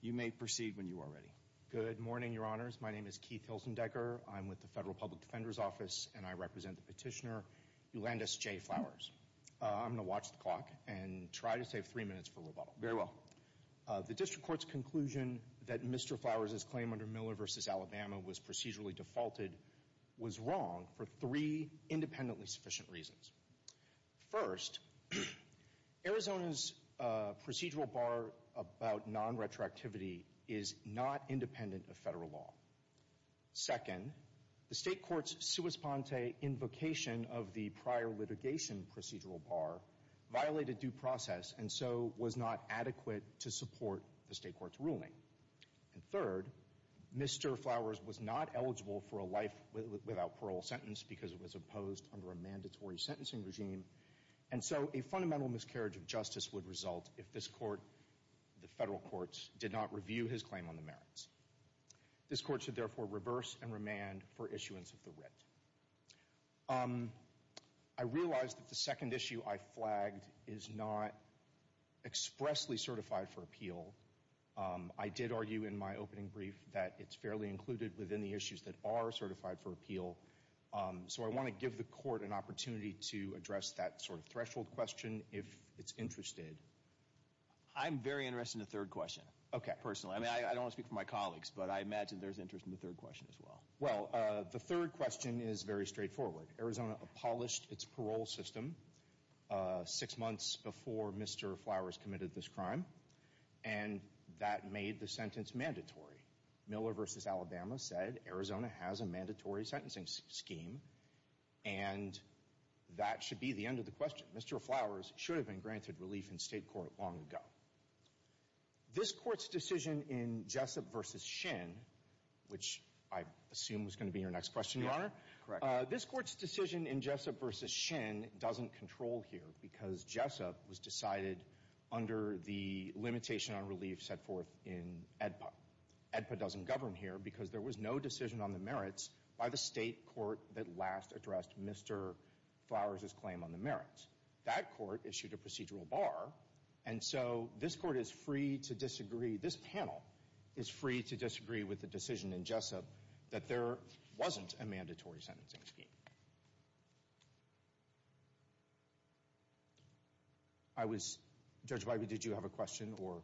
You may proceed when you are ready. Good morning, your honors. My name is Keith Hilsendecker. I'm with the Federal Public Defender's Office, and I represent the petitioner, Eulandas J. Flowers. I'm going to watch the clock and try to save three minutes for rebuttal. Very well. The district court's conclusion that Mr. Flowers' claim under Miller versus Alabama was procedurally defaulted was wrong for three independently sufficient reasons. First, Arizona's procedural bar about non-retroactivity is not independent of federal law. Second, the state court's sua sponte invocation of the prior litigation procedural bar violated due process and so was not adequate to support the state court's ruling. And third, Mr. Flowers was not eligible for a life without parole sentence because it was opposed under a mandatory sentencing regime. And so a fundamental miscarriage of justice would result if this court, the federal courts, did not review his claim on the merits. This court should therefore reverse and remand for issuance of the writ. I realize that the second issue I flagged is not expressly certified for appeal. I did argue in my opening brief that it's fairly included within the issues that are certified for appeal. So I want to give the court an opportunity to address that sort of threshold question if it's interested. I'm very interested in the third question. Okay. Personally. I mean, I don't want to speak for my colleagues, but I imagine there's interest in the third question as well. Well, the third question is very straightforward. Arizona abolished its parole system six months before Mr. Flowers committed this crime and that made the sentence mandatory. Miller v. Alabama said Arizona has a mandatory sentencing scheme and that should be the end of the question. Mr. Flowers should have been granted relief in state court long ago. This court's decision in Jessup v. Shin, which I assume was going to be your next question, Your Honor, this court's decision in Jessup v. Shin doesn't control here because Jessup was decided under the limitation on relief set forth in AEDPA. AEDPA doesn't govern here because there was no decision on the merits by the state court that last addressed Mr. Flowers' claim on the merits. That court issued a procedural bar and so this court is free to disagree, this panel is free to disagree with the decision in Jessup that there wasn't a mandatory sentencing scheme. I was, Judge Wybee, did you have a question or?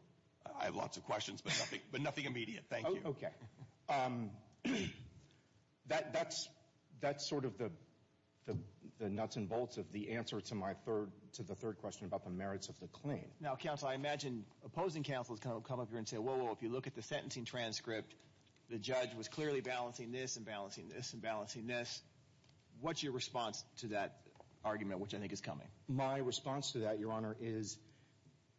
I have lots of questions but nothing immediate. Thank you. Okay. That's sort of the nuts and bolts of the answer to my third, to the third question about the merits of the claim. Now, counsel, I imagine opposing counsels come up here and say, whoa, whoa, if you look at the sentencing transcript, the judge was clearly balancing this and balancing this and balancing this. What's your response to that argument, which I think is coming? My response to that, Your Honor, is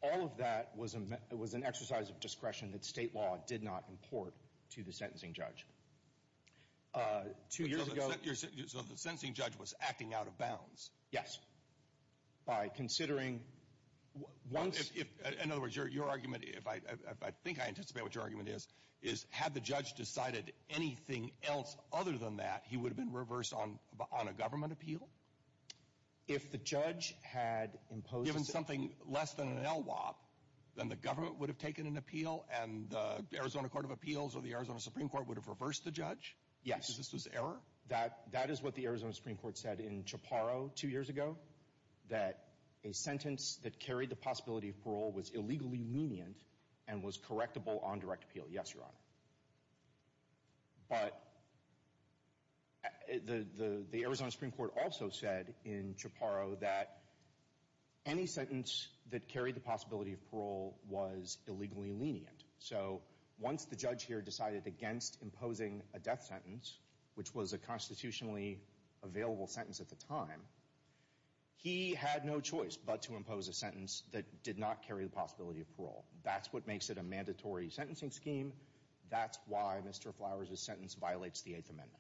all of that was an exercise of discretion that state law did not import to the sentencing judge. Two years ago. So the sentencing judge was acting out of bounds? Yes. By considering once. In other words, your argument, I think I anticipate what your argument is, is had the judge decided anything else other than that, he would have been reversed on a government appeal? If the judge had imposed. Given something less than an LWOP, then the government would have taken an appeal and the Arizona Court of Appeals or the Arizona Supreme Court would have reversed the judge? Yes. Because this was error? That is what the Arizona Supreme Court said in Chaparro two years ago, that a sentence that carried the possibility of parole was illegally lenient and was correctable on direct appeal. Yes, Your Honor. But the Arizona Supreme Court also said in Chaparro that any sentence that carried the possibility of parole was illegally lenient. So once the judge here decided against imposing a death sentence, which was a constitutionally available sentence at the time, he had no choice but to impose a sentence that did not carry the possibility of parole. That's what makes it a mandatory sentencing scheme. That's why Mr. Flowers' sentence violates the Eighth Amendment.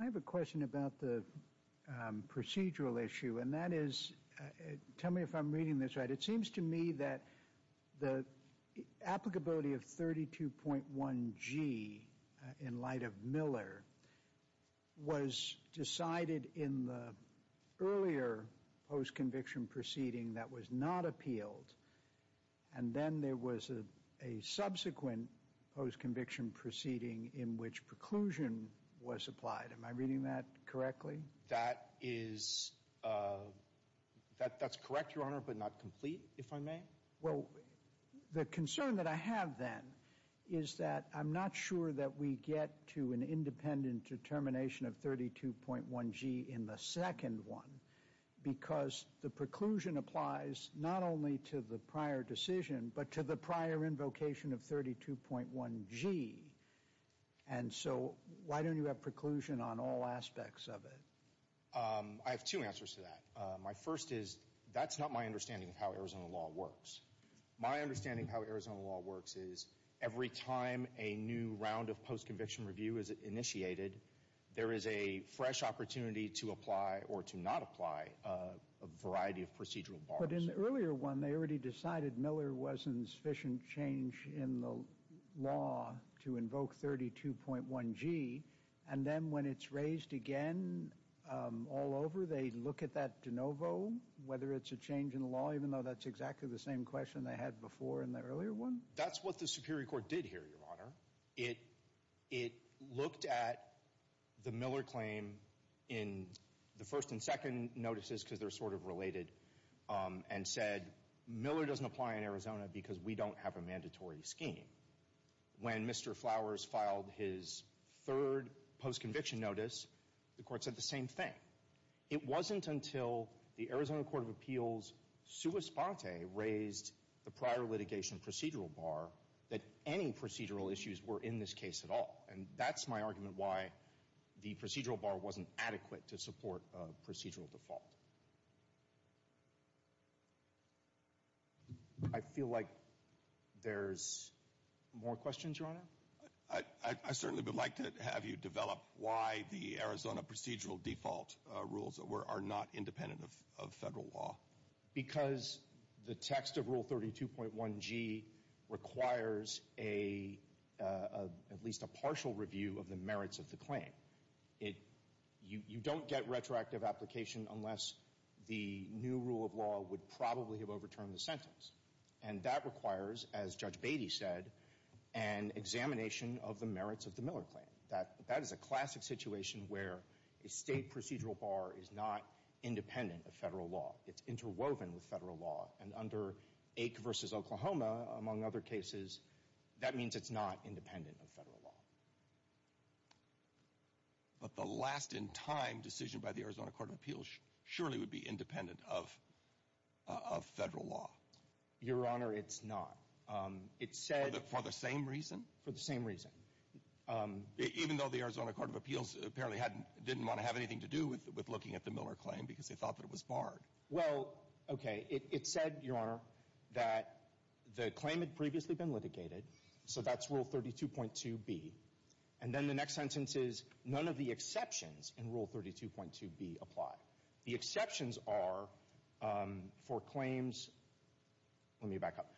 I have a question about the procedural issue and that is, tell me if I'm reading this right, it seems to me that the applicability of 32.1G in light of Miller was decided in the earlier post-conviction proceeding that was not appealed and then there was a subsequent post-conviction proceeding in which preclusion was applied. Am I reading that correctly? That is, that's correct, Your Honor, but not complete, if I may. Well, the concern that I have then is that I'm not sure that we get to an independent determination of 32.1G in the second one because the preclusion applies not only to the prior decision but to the prior invocation of 32.1G. And so why don't you have preclusion on all aspects of it? I have two answers to that. My first is, that's not my understanding of how Arizona law works. My understanding of how Arizona law works is every time a new round of post-conviction review is initiated, there is a fresh opportunity to apply or to not apply a variety of procedural bars. But in the earlier one, they already decided Miller wasn't sufficient change in the law to invoke 32.1G and then when it's raised again all over, they look at that de novo, whether it's a change in the law even though that's exactly the same question they had before in the earlier one? That's what the Superior Court did here, Your Honor. It looked at the Miller claim in the first and second notices because they're sort of related and said Miller doesn't apply in Arizona because we don't have a mandatory scheme. When Mr. Flowers filed his third post-conviction notice, the court said the same thing. It wasn't until the Arizona Court of Appeals sua sponte raised the prior litigation procedural bar that any procedural issues were in this case at all. And that's my argument why the procedural bar wasn't adequate to support a procedural default. I feel like there's more questions, Your Honor? I certainly would like to have you develop why the Arizona procedural default rules are not independent of federal law. Because the text of Rule 32.1G requires at least a partial review of the merits of the claim. You don't get retroactive application unless the new rule of law would probably have overturned the sentence. And that requires, as Judge Beatty said, an examination of the merits of the Miller claim. That is a classic situation where a state procedural bar is not independent of federal law. It's interwoven with federal law. And under Ake v. Oklahoma, among other cases, that means it's not independent of federal law. But the last-in-time decision by the Arizona Court of Appeals surely would be independent of federal law. Your Honor, it's not. For the same reason? For the same reason. Even though the Arizona Court of Appeals apparently didn't want to have anything to do with looking at the Miller claim because they thought that it was barred? Well, okay, it said, Your Honor, that the claim had previously been litigated. So that's Rule 32.2B. And then the next sentence is, none of the exceptions in Rule 32.2B apply. The exceptions are for claims, let me back up.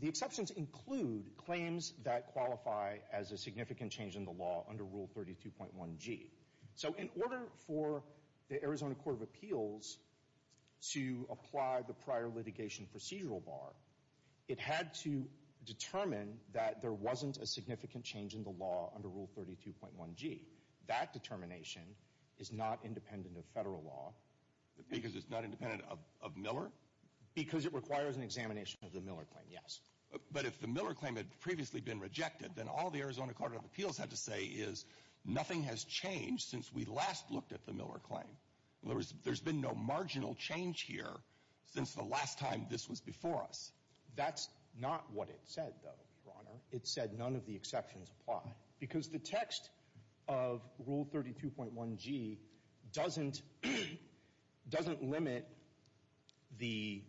The exceptions include claims that qualify as a significant change in the law under Rule 32.1G. So in order for the Arizona Court of Appeals to apply the prior litigation procedural bar, it had to determine that there wasn't a significant change in the law under Rule 32.1G. That determination is not independent of federal law. Because it's not independent of Miller? Because it requires an examination of the Miller claim, yes. But if the Miller claim had previously been rejected, then all the Arizona Court of Appeals had to say is, nothing has changed since we last looked at the Miller claim. In other words, there's been no marginal change here since the last time this was before us. That's not what it said, though, Your Honor. It said, none of the exceptions apply. Because the text of Rule 32.1G doesn't limit the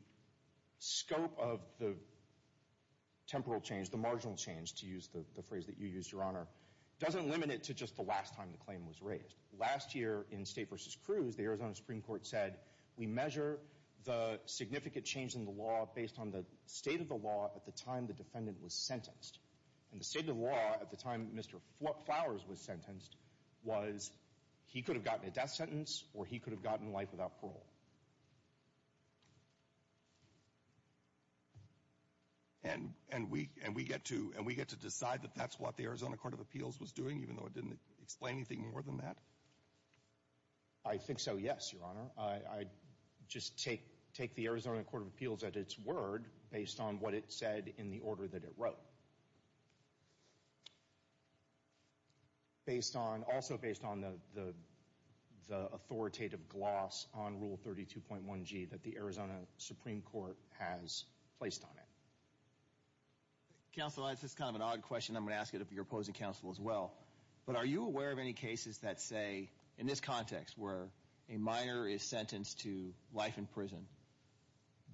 scope of the temporal change, the marginal change, to use the phrase that you used, Your Honor, doesn't limit it to just the last time the claim was raised. Last year, in State v. Cruz, the Arizona Supreme Court said, we measure the significant change in the law based on the state of the law at the time the defendant was sentenced. And the state of the law at the time Mr. Flowers was sentenced was, he could have gotten a death sentence, or he could have gotten life without parole. And we get to decide that that's what the Arizona Court of Appeals was doing, even though it didn't explain anything more than that? I think so, yes, Your Honor. I just take the Arizona Court of Appeals at its word based on what it said in the order that it wrote. Based on, also based on the authoritative gloss on Rule 32.1G that the Arizona Supreme Court has placed on it. Counsel, this is kind of an odd question. I'm going to ask it of your opposing counsel as well. But are you aware of any cases that say, in this context, where a minor is sentenced to life in prison,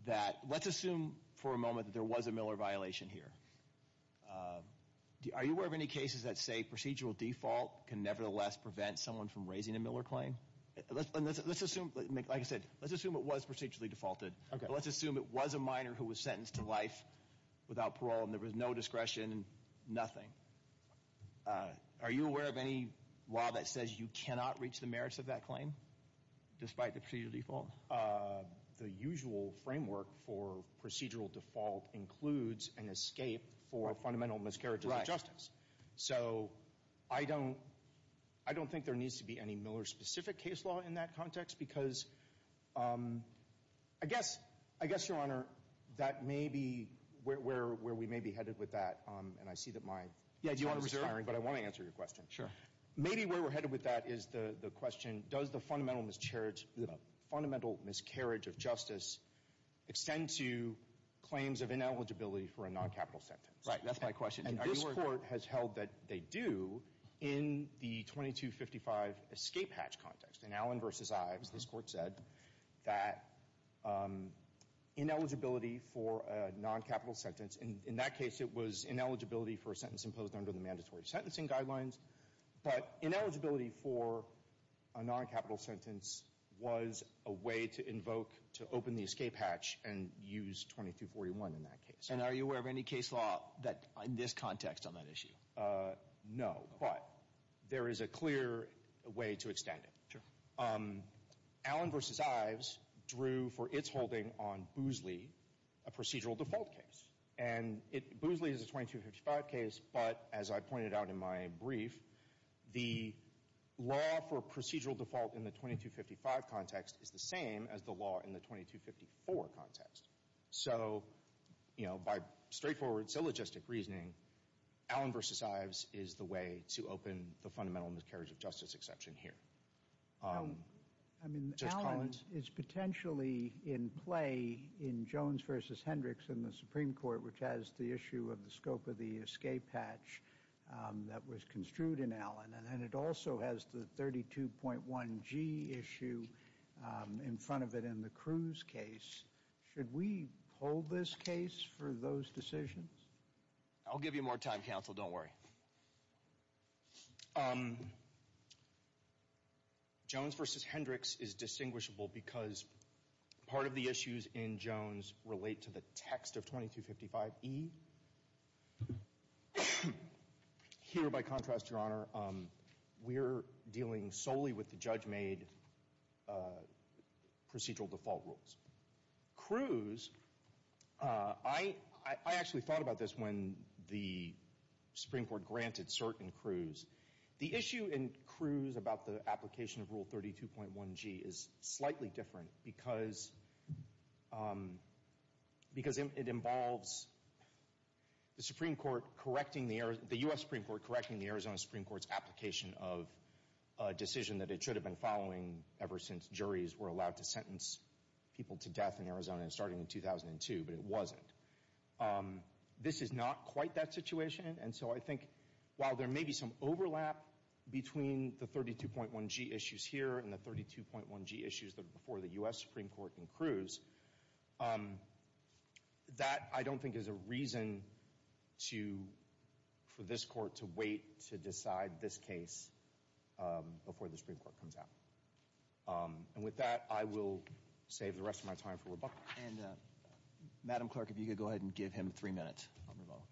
that, let's assume for a moment that there was a Miller violation here. Are you aware of any cases that say procedural default can nevertheless prevent someone from raising a Miller claim? Let's assume, like I said, let's assume it was procedurally defaulted. Let's assume it was a minor who was sentenced to life without parole and there was no discretion, nothing. Are you aware of any law that says you cannot reach the merits of that claim? Despite the procedural default? The usual framework for procedural default includes an escape for fundamental miscarriages of justice. So I don't, I don't think there needs to be any Miller specific case law in that context because I guess, I guess, Your Honor, that may be where we may be headed with that. And I see that my time is expiring, but I want to answer your question. Sure. Maybe where we're headed with that is the question, does the fundamental miscarriage of justice extend to claims of ineligibility for a non-capital sentence? Right, that's my question. And this Court has held that they do in the 2255 escape hatch context. In Allen v. Ives, this Court said that ineligibility for a non-capital sentence, in that case it was ineligibility for a sentence imposed under the mandatory sentencing guidelines. But ineligibility for a non-capital sentence was a way to invoke, to open the escape hatch and use 2241 in that case. And are you aware of any case law that, in this context, on that issue? No, but there is a clear way to extend it. Sure. Allen v. Ives drew for its holding on Boozley, a procedural default case. And Boozley is a 2255 case, but as I pointed out in my brief, the law for procedural default in the 2255 context is the same as the law in the 2254 context. So, you know, by straightforward syllogistic reasoning, Allen v. Ives is the way to open the fundamental miscarriage of justice exception here. I mean, Allen is potentially in play in Jones v. Hendricks in the Supreme Court, which has the issue of the scope of the escape hatch that was construed in Allen, and it also has the 32.1G issue in front of it in the Cruz case. Should we hold this case for those decisions? I'll give you more time, counsel. Don't worry. Jones v. Hendricks is distinguishable because part of the issues in Jones relate to the text of 2255E. Here, by contrast, Your Honor, we're dealing solely with the judge-made procedural default rules. Cruz, I actually thought about this when the Supreme Court granted cert in Cruz. The issue in Cruz about the application of Rule 32.1G is slightly different because it involves the U.S. Supreme Court correcting the Arizona Supreme Court's application of a decision that it should have been following ever since juries were allowed to sentence people to death in Arizona starting in 2002, but it wasn't. This is not quite that situation, and so I think while there may be some overlap between the 32.1G issues here and the 32.1G issues that are before the U.S. Supreme Court in Cruz, that I don't think is a reason for this court to wait to decide this case before the Supreme Court comes out. And with that, I will save the rest of my time for rebuttal. And, Madam Clerk, if you could go ahead and give him three minutes on rebuttal.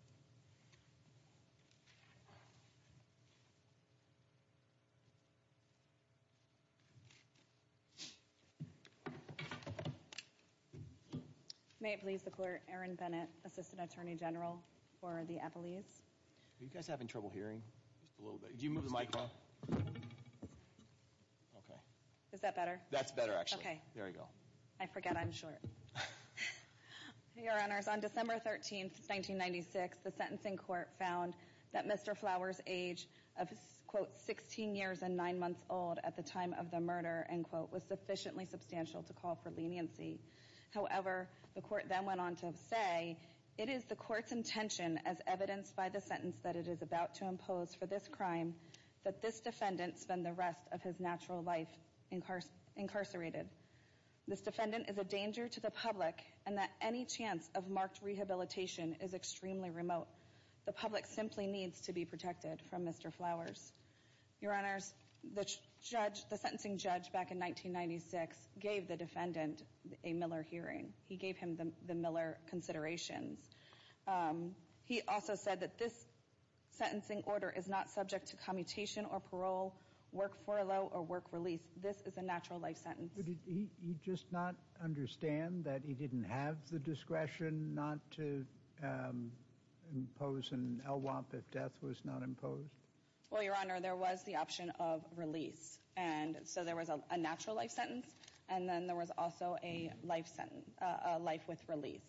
May it please the Court, Aaron Bennett, Assistant Attorney General for the Epeliz. Are you guys having trouble hearing? Just a little bit. Could you move the microphone? Okay. Is that better? That's better, actually. Okay. There you go. I forget I'm short. Your Honors, on December 13th, 1996, the sentencing court found that Mr. Flower's age of quote 16 years and nine months old at the time of the murder, end quote, was sufficiently substantial to call for leniency. However, the court then went on to say, it is the court's intention as evidenced by the sentence that it is about to impose for this crime that this defendant spend the rest of his natural life incarcerated. This defendant is a danger to the public and that any chance of marked rehabilitation is extremely remote. The public simply needs to be protected from Mr. Flowers. Your Honors, the sentencing judge back in 1996 gave the defendant a Miller hearing. He gave him the Miller considerations. He also said that this sentencing order is not subject to commutation or parole, work furlough, or work release. This is a natural life sentence. But did he just not understand that he didn't have the discretion not to impose an LWOP if death was not imposed? Well, Your Honor, there was the option of release. And so there was a natural life sentence. And then there was also a life sentence, a life with release.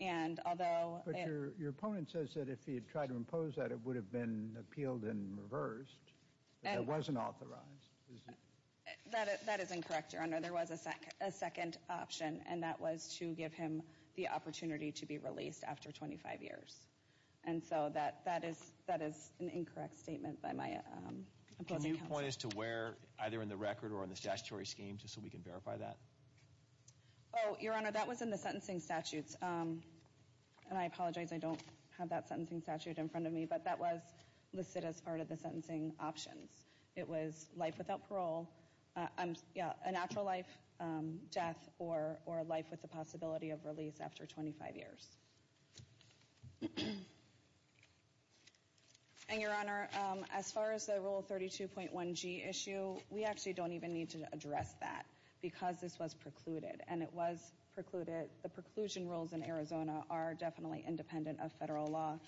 And although it. But your opponent says that if he had tried to impose that, it would have been appealed and reversed, but it wasn't authorized. That is incorrect, Your Honor. There was a second option, and that was to give him the opportunity to be released after 25 years. And so that is an incorrect statement by my opposing counsel. Can you point us to where, either in the record or in the statutory scheme, just so we can verify that? Oh, Your Honor, that was in the sentencing statutes. And I apologize, I don't have that sentencing statute in front of me. But that was listed as part of the sentencing options. It was life without parole, yeah, a natural life, death, or a life with the possibility of release after 25 years. And, Your Honor, as far as the Rule 32.1g issue, we actually don't even need to address that because this was precluded, and it was precluded. The preclusion rules in Arizona are definitely independent of federal law.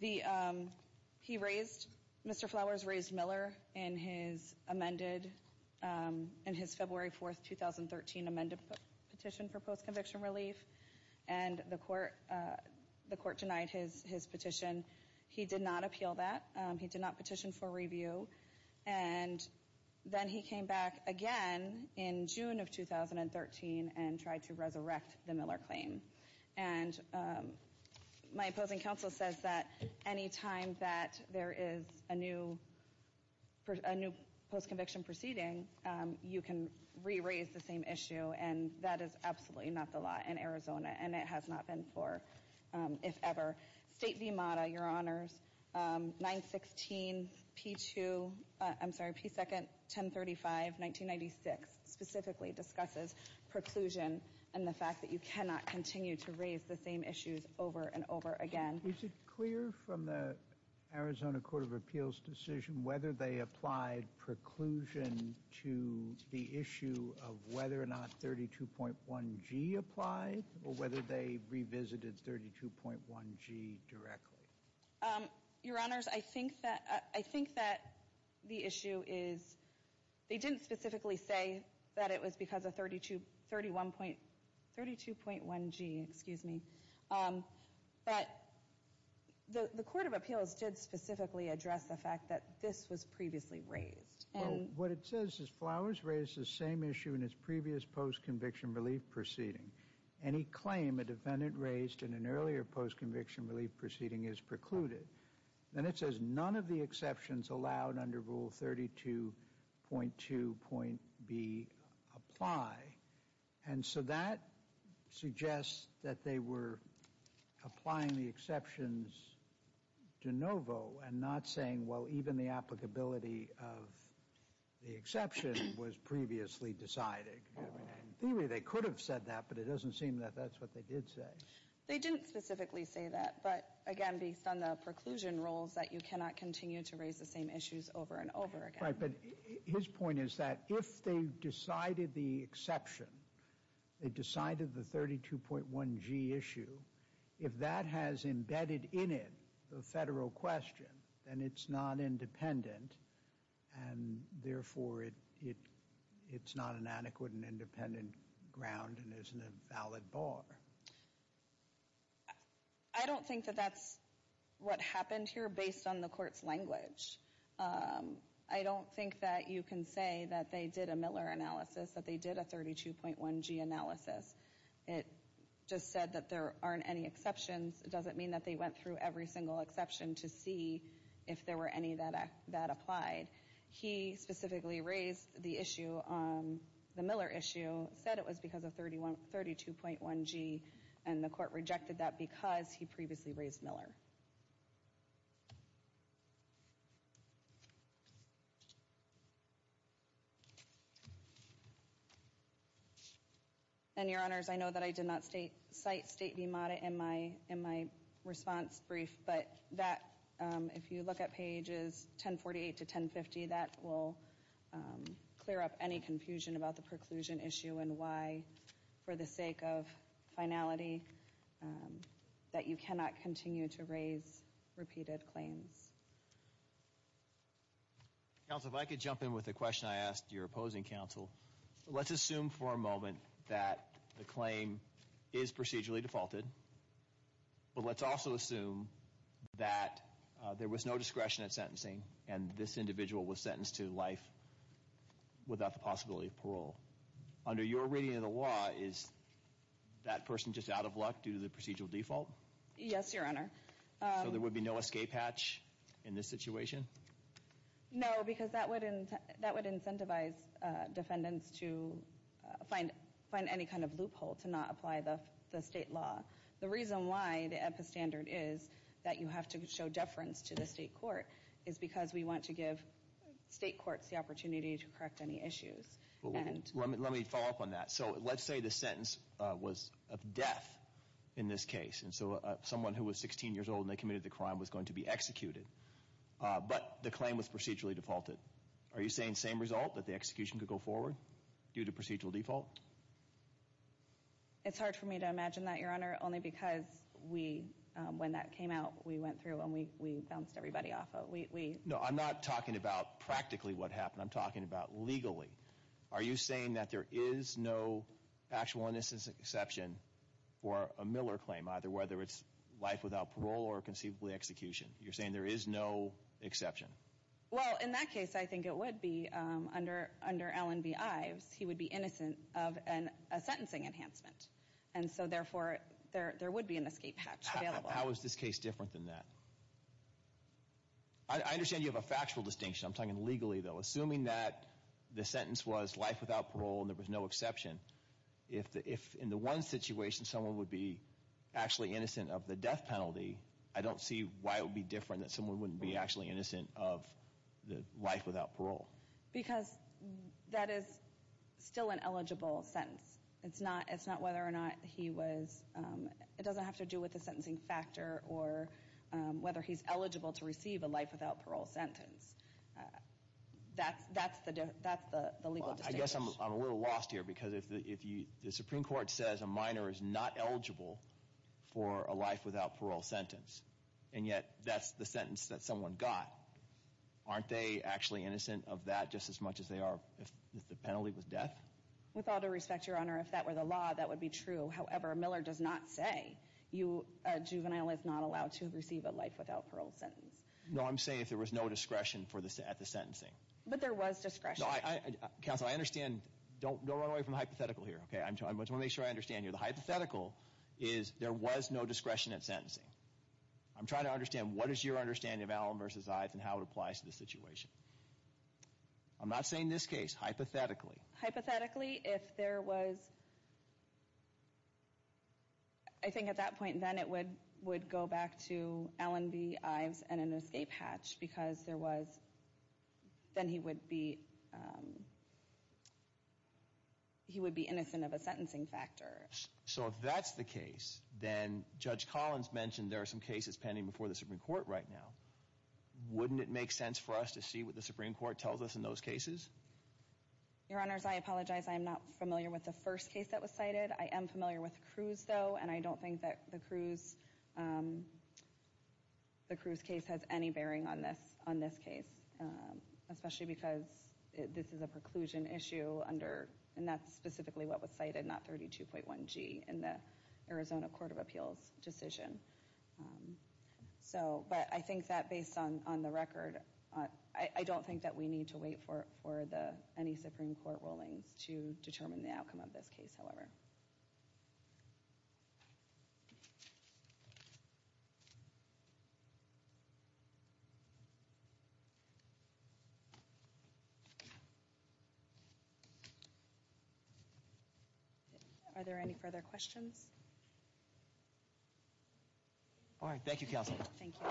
The, he raised, Mr. Flowers raised Miller in his amended, in his February 4th, 2013 amended petition for post-conviction relief. And the court denied his petition. He did not appeal that. He did not petition for review. And then he came back again in June of 2013 and tried to resurrect the Miller claim. And my opposing counsel says that any time that there is a new post-conviction proceeding, you can re-raise the same issue. And that is absolutely not the law in Arizona, and it has not been for, if ever. State v. MATA, Your Honors, 916P2, I'm sorry, P21035, 1996, specifically discusses preclusion and the fact that you cannot continue to raise the same issues over and over again. Is it clear from the Arizona Court of Appeals decision whether they applied preclusion to the issue of whether or not 32.1g applied, or whether they revisited 32.1g directly? Your Honors, I think that, I think that the issue is, they didn't specifically say that it was because of 32.1g, excuse me. But the Court of Appeals did specifically address the fact that this was previously raised. And what it says is Flowers raised the same issue in his previous post-conviction relief proceeding. And he claimed a defendant raised in an earlier post-conviction relief proceeding is precluded. And it says none of the exceptions allowed under Rule 32.2.B apply. And so that suggests that they were applying the exceptions de novo and not saying, well, even the applicability of the exception was previously decided. In theory, they could have said that, but it doesn't seem that that's what they did say. They didn't specifically say that, but again, based on the preclusion rules that you cannot continue to raise the same issues over and over again. Right, but his point is that if they decided the exception, they decided the 32.1g issue, if that has embedded in it the federal question, then it's not independent. And therefore, it's not an adequate and independent ground and isn't a valid bar. I don't think that that's what happened here based on the court's language. I don't think that you can say that they did a Miller analysis, that they did a 32.1g analysis. It just said that there aren't any exceptions. It doesn't mean that they went through every single exception to see if there were any that applied. He specifically raised the issue, the Miller issue, said it was because of 32.1g, and the court rejected that because he previously raised Miller. And your honors, I know that I did not cite state de moda in my response brief, but that, if you look at pages 1048 to 1050, that will clear up any confusion about the preclusion issue and why, for the sake of finality, that you cannot continue to raise repeated claims. Counsel, if I could jump in with a question I asked your opposing counsel. Let's assume for a moment that the claim is procedurally defaulted, but let's also assume that there was no discretion in sentencing, and this individual was sentenced to life without the possibility of parole. Under your reading of the law, is that person just out of luck due to the procedural default? Yes, your honor. So there would be no escape hatch in this situation? No, because that would incentivize defendants to find any kind of loophole to not apply the state law. The reason why the epistandard is that you have to show deference to the state court is because we want to give state courts the opportunity to correct any issues. Let me follow up on that. So let's say the sentence was of death in this case, and so someone who was 16 years old and they committed the crime was going to be executed, but the claim was procedurally defaulted. Are you saying same result, that the execution could go forward due to procedural default? It's hard for me to imagine that, your honor, only because when that came out, we went through and we bounced everybody off of it. No, I'm not talking about practically what happened. I'm talking about legally. Are you saying that there is no actual innocence exception for a Miller claim, either whether it's life without parole or conceivably execution? You're saying there is no exception? Well, in that case, I think it would be. Under Allen v. Ives, he would be innocent of a sentencing enhancement. And so, therefore, there would be an escape hatch available. How is this case different than that? I understand you have a factual distinction. I'm talking legally, though. Assuming that the sentence was life without parole and there was no exception, if in the one situation someone would be actually innocent of the death penalty, I don't see why it would be different that someone wouldn't be actually innocent of the life without parole. Because that is still an eligible sentence. It's not whether or not he was, it doesn't have to do with the sentencing factor or whether he's eligible to receive a life without parole sentence. That's the legal distinction. I guess I'm a little lost here because if the Supreme Court says a minor is not eligible for a life without parole sentence and yet that's the sentence that someone got, aren't they actually innocent of that just as much as they are if the penalty was death? With all due respect, Your Honor, if that were the law, that would be true. However, Miller does not say a juvenile is not allowed to receive a life without parole sentence. No, I'm saying if there was no discretion at the sentencing. But there was discretion. Counsel, I understand. Don't run away from the hypothetical here, okay? I just want to make sure I understand here. The hypothetical is there was no discretion at sentencing. I'm trying to understand what is your understanding of Allen versus Ives and how it applies to the situation. I'm not saying this case, hypothetically. Hypothetically, if there was, I think at that point, then it would go back to Allen v. Ives and an escape hatch because there was, then he would be innocent of a sentencing factor. So if that's the case, then Judge Collins mentioned there are some cases pending before the Supreme Court right now. Wouldn't it make sense for us to see what the Supreme Court tells us in those cases? Your Honors, I apologize. I'm not familiar with the first case that was cited. I am familiar with Cruz, though. And I don't think that the Cruz case has any bearing on this case, especially because this is a preclusion issue under, and that's specifically what was cited, not 32.1G in the Arizona Court of Appeals decision. So, but I think that based on the record, I don't think that we need to wait for any Supreme Court rulings to determine the outcome of this case, however. Are there any further questions? All right. Thank you, Counsel. Thank you.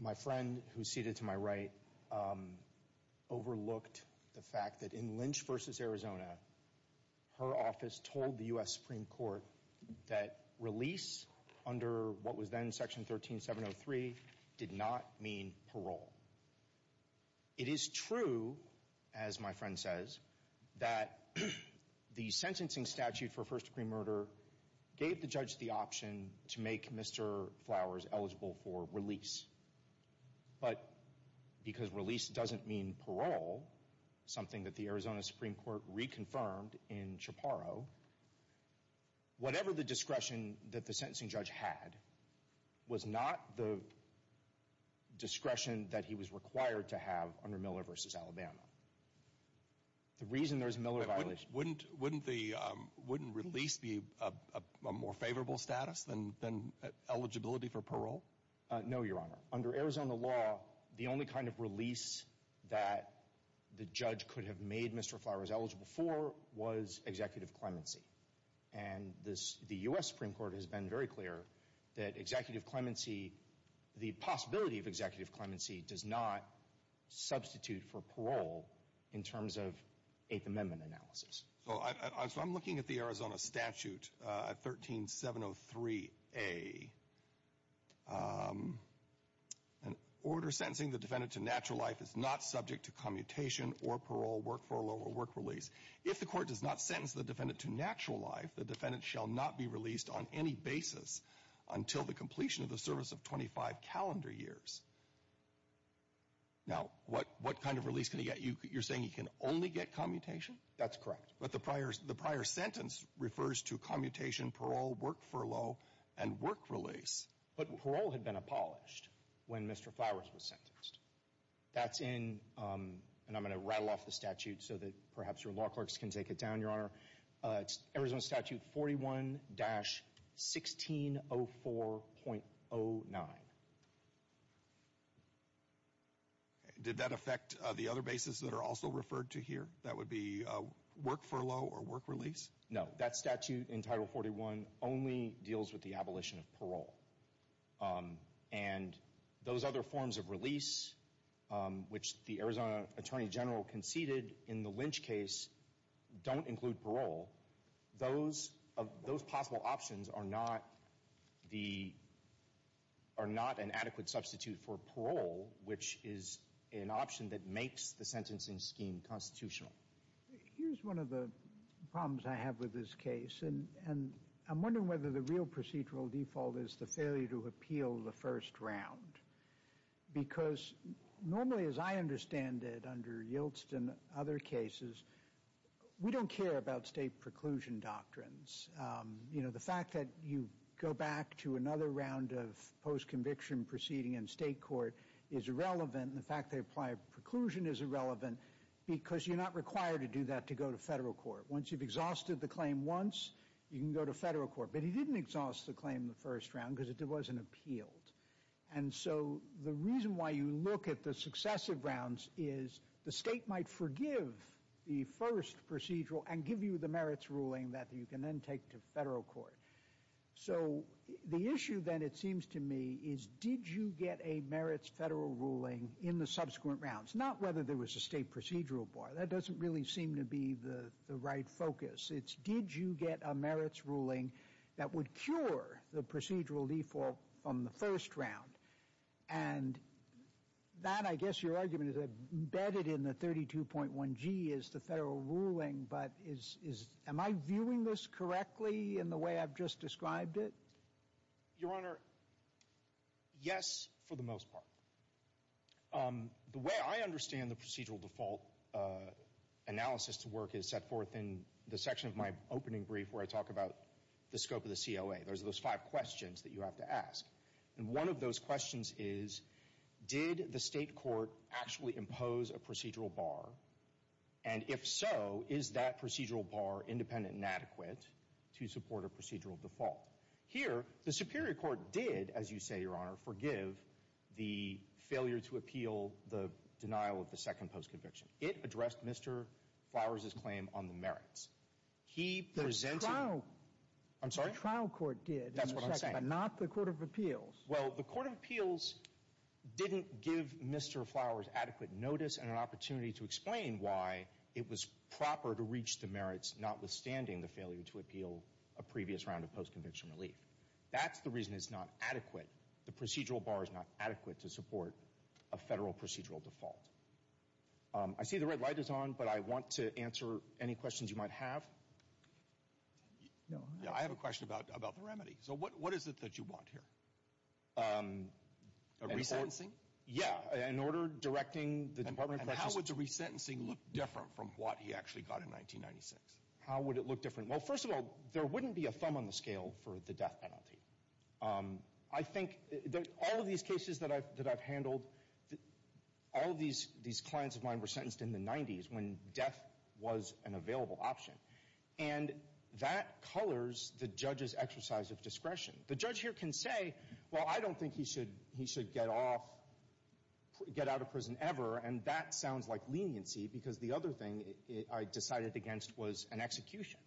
My friend who's seated to my right overlooked the fact that in Lynch v. Arizona, her office told the U.S. Supreme Court that release under what was then Section 13703 did not mean parole. It is true, as my friend says, that the sentencing statute for first-degree murder gave the judge the option to make Mr. Flowers eligible for release. But because release doesn't mean parole, something that the Arizona Supreme Court reconfirmed in Chaparro, whatever the discretion that the sentencing judge had was not the discretion that he was required to have under Miller v. Alabama. The reason there's a Miller violation. Wouldn't release be a more favorable status than eligibility for parole? No, Your Honor. Under Arizona law, the only kind of release that the judge could have made Mr. Flowers eligible for was executive clemency. And the U.S. Supreme Court has been very clear that executive clemency, the possibility of executive clemency does not substitute for parole in terms of Eighth Amendment analysis. So I'm looking at the Arizona statute 13703A. An order sentencing the defendant to natural life is not subject to commutation or parole, work furlough, or work release. If the court does not sentence the defendant to natural life, the defendant shall not be released on any basis until the completion of the service of 25 calendar years. Now, what kind of release can he get? You're saying he can only get commutation? That's correct. But the prior sentence refers to commutation, parole, work furlough, and work release. But parole had been abolished when Mr. Flowers was sentenced. That's in, and I'm going to rattle off the statute so that perhaps your law clerks can take it down, Your Honor. It's Arizona Statute 41-1604.09. Did that affect the other basis that are also referred to here? That would be work furlough or work release? No. That statute in Title 41 only deals with the abolition of parole. And those other forms of release, which the Arizona Attorney General conceded in the Lynch case, don't include parole. Those possible options are not an adequate substitute for parole, which is an option that makes the sentencing scheme constitutional. Here's one of the problems I have with this case. And I'm wondering whether the real procedural default is the failure to appeal the first round. Because normally, as I understand it under Yiltsin and other cases, we don't care about state preclusion doctrines. You know, the fact that you go back to another round of postconviction proceeding in state court is irrelevant, and the fact they apply a preclusion is irrelevant because you're not required to do that to go to federal court. Once you've exhausted the claim once, you can go to federal court. But he didn't exhaust the claim the first round because it wasn't appealed. And so the reason why you look at the successive rounds is the state might forgive the first procedural and give you the merits ruling that you can then take to federal court. So the issue then, it seems to me, is did you get a merits federal ruling in the subsequent rounds? Not whether there was a state procedural bar. That doesn't really seem to be the right focus. It's did you get a merits ruling that would cure the procedural default from the first round? And that, I guess, your argument is embedded in the 32.1G is the federal ruling. But is, am I viewing this correctly in the way I've just described it? Your Honor, yes, for the most part. The way I understand the procedural default analysis to work is set forth in the section of my opening brief where I talk about the scope of the COA. Those are those five questions that you have to ask. And one of those questions is, did the state court actually impose a procedural bar? And if so, is that procedural bar independent and adequate to support a procedural default? Here, the Superior Court did, as you say, your Honor, forgive the failure to appeal the denial of the second post-conviction. It addressed Mr. Flowers' claim on the merits. He presented the trial court did, but not the court of appeals. Well, the court of appeals didn't give Mr. Flowers adequate notice and an opportunity to explain why it was proper to reach the merits, notwithstanding the failure to appeal a previous round of post-conviction relief. That's the reason it's not adequate. The procedural bar is not adequate to support a federal procedural default. I see the red light is on, but I want to answer any questions you might have. No. Yeah, I have a question about the remedy. So what is it that you want here? A rebalancing? Yeah, in order directing the Department of Corrections. And how would the resentencing look different from what he actually got in 1996? How would it look different? Well, first of all, there wouldn't be a thumb on the scale for the death penalty. I think that all of these cases that I've handled, all of these clients of mine were sentenced in the 90s when death was an available option. And that colors the judge's exercise of discretion. The judge here can say, well, I don't think he should get off, get out of prison ever, and that sounds like leniency because the other thing I decided against was an execution.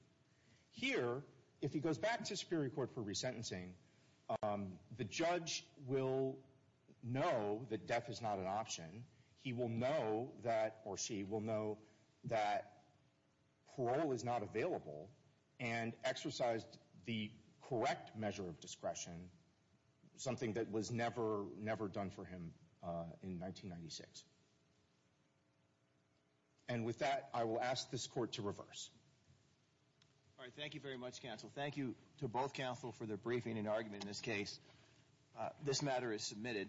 Here, if he goes back to the Supreme Court for resentencing, the judge will know that death is not an option. He will know that, or she will know that parole is not available and exercised the correct measure of discretion, something that was never, never done for him in 1996. And with that, I will ask this court to reverse. All right, thank you very much, counsel. Thank you to both counsel for their briefing and argument in this case. This matter is submitted.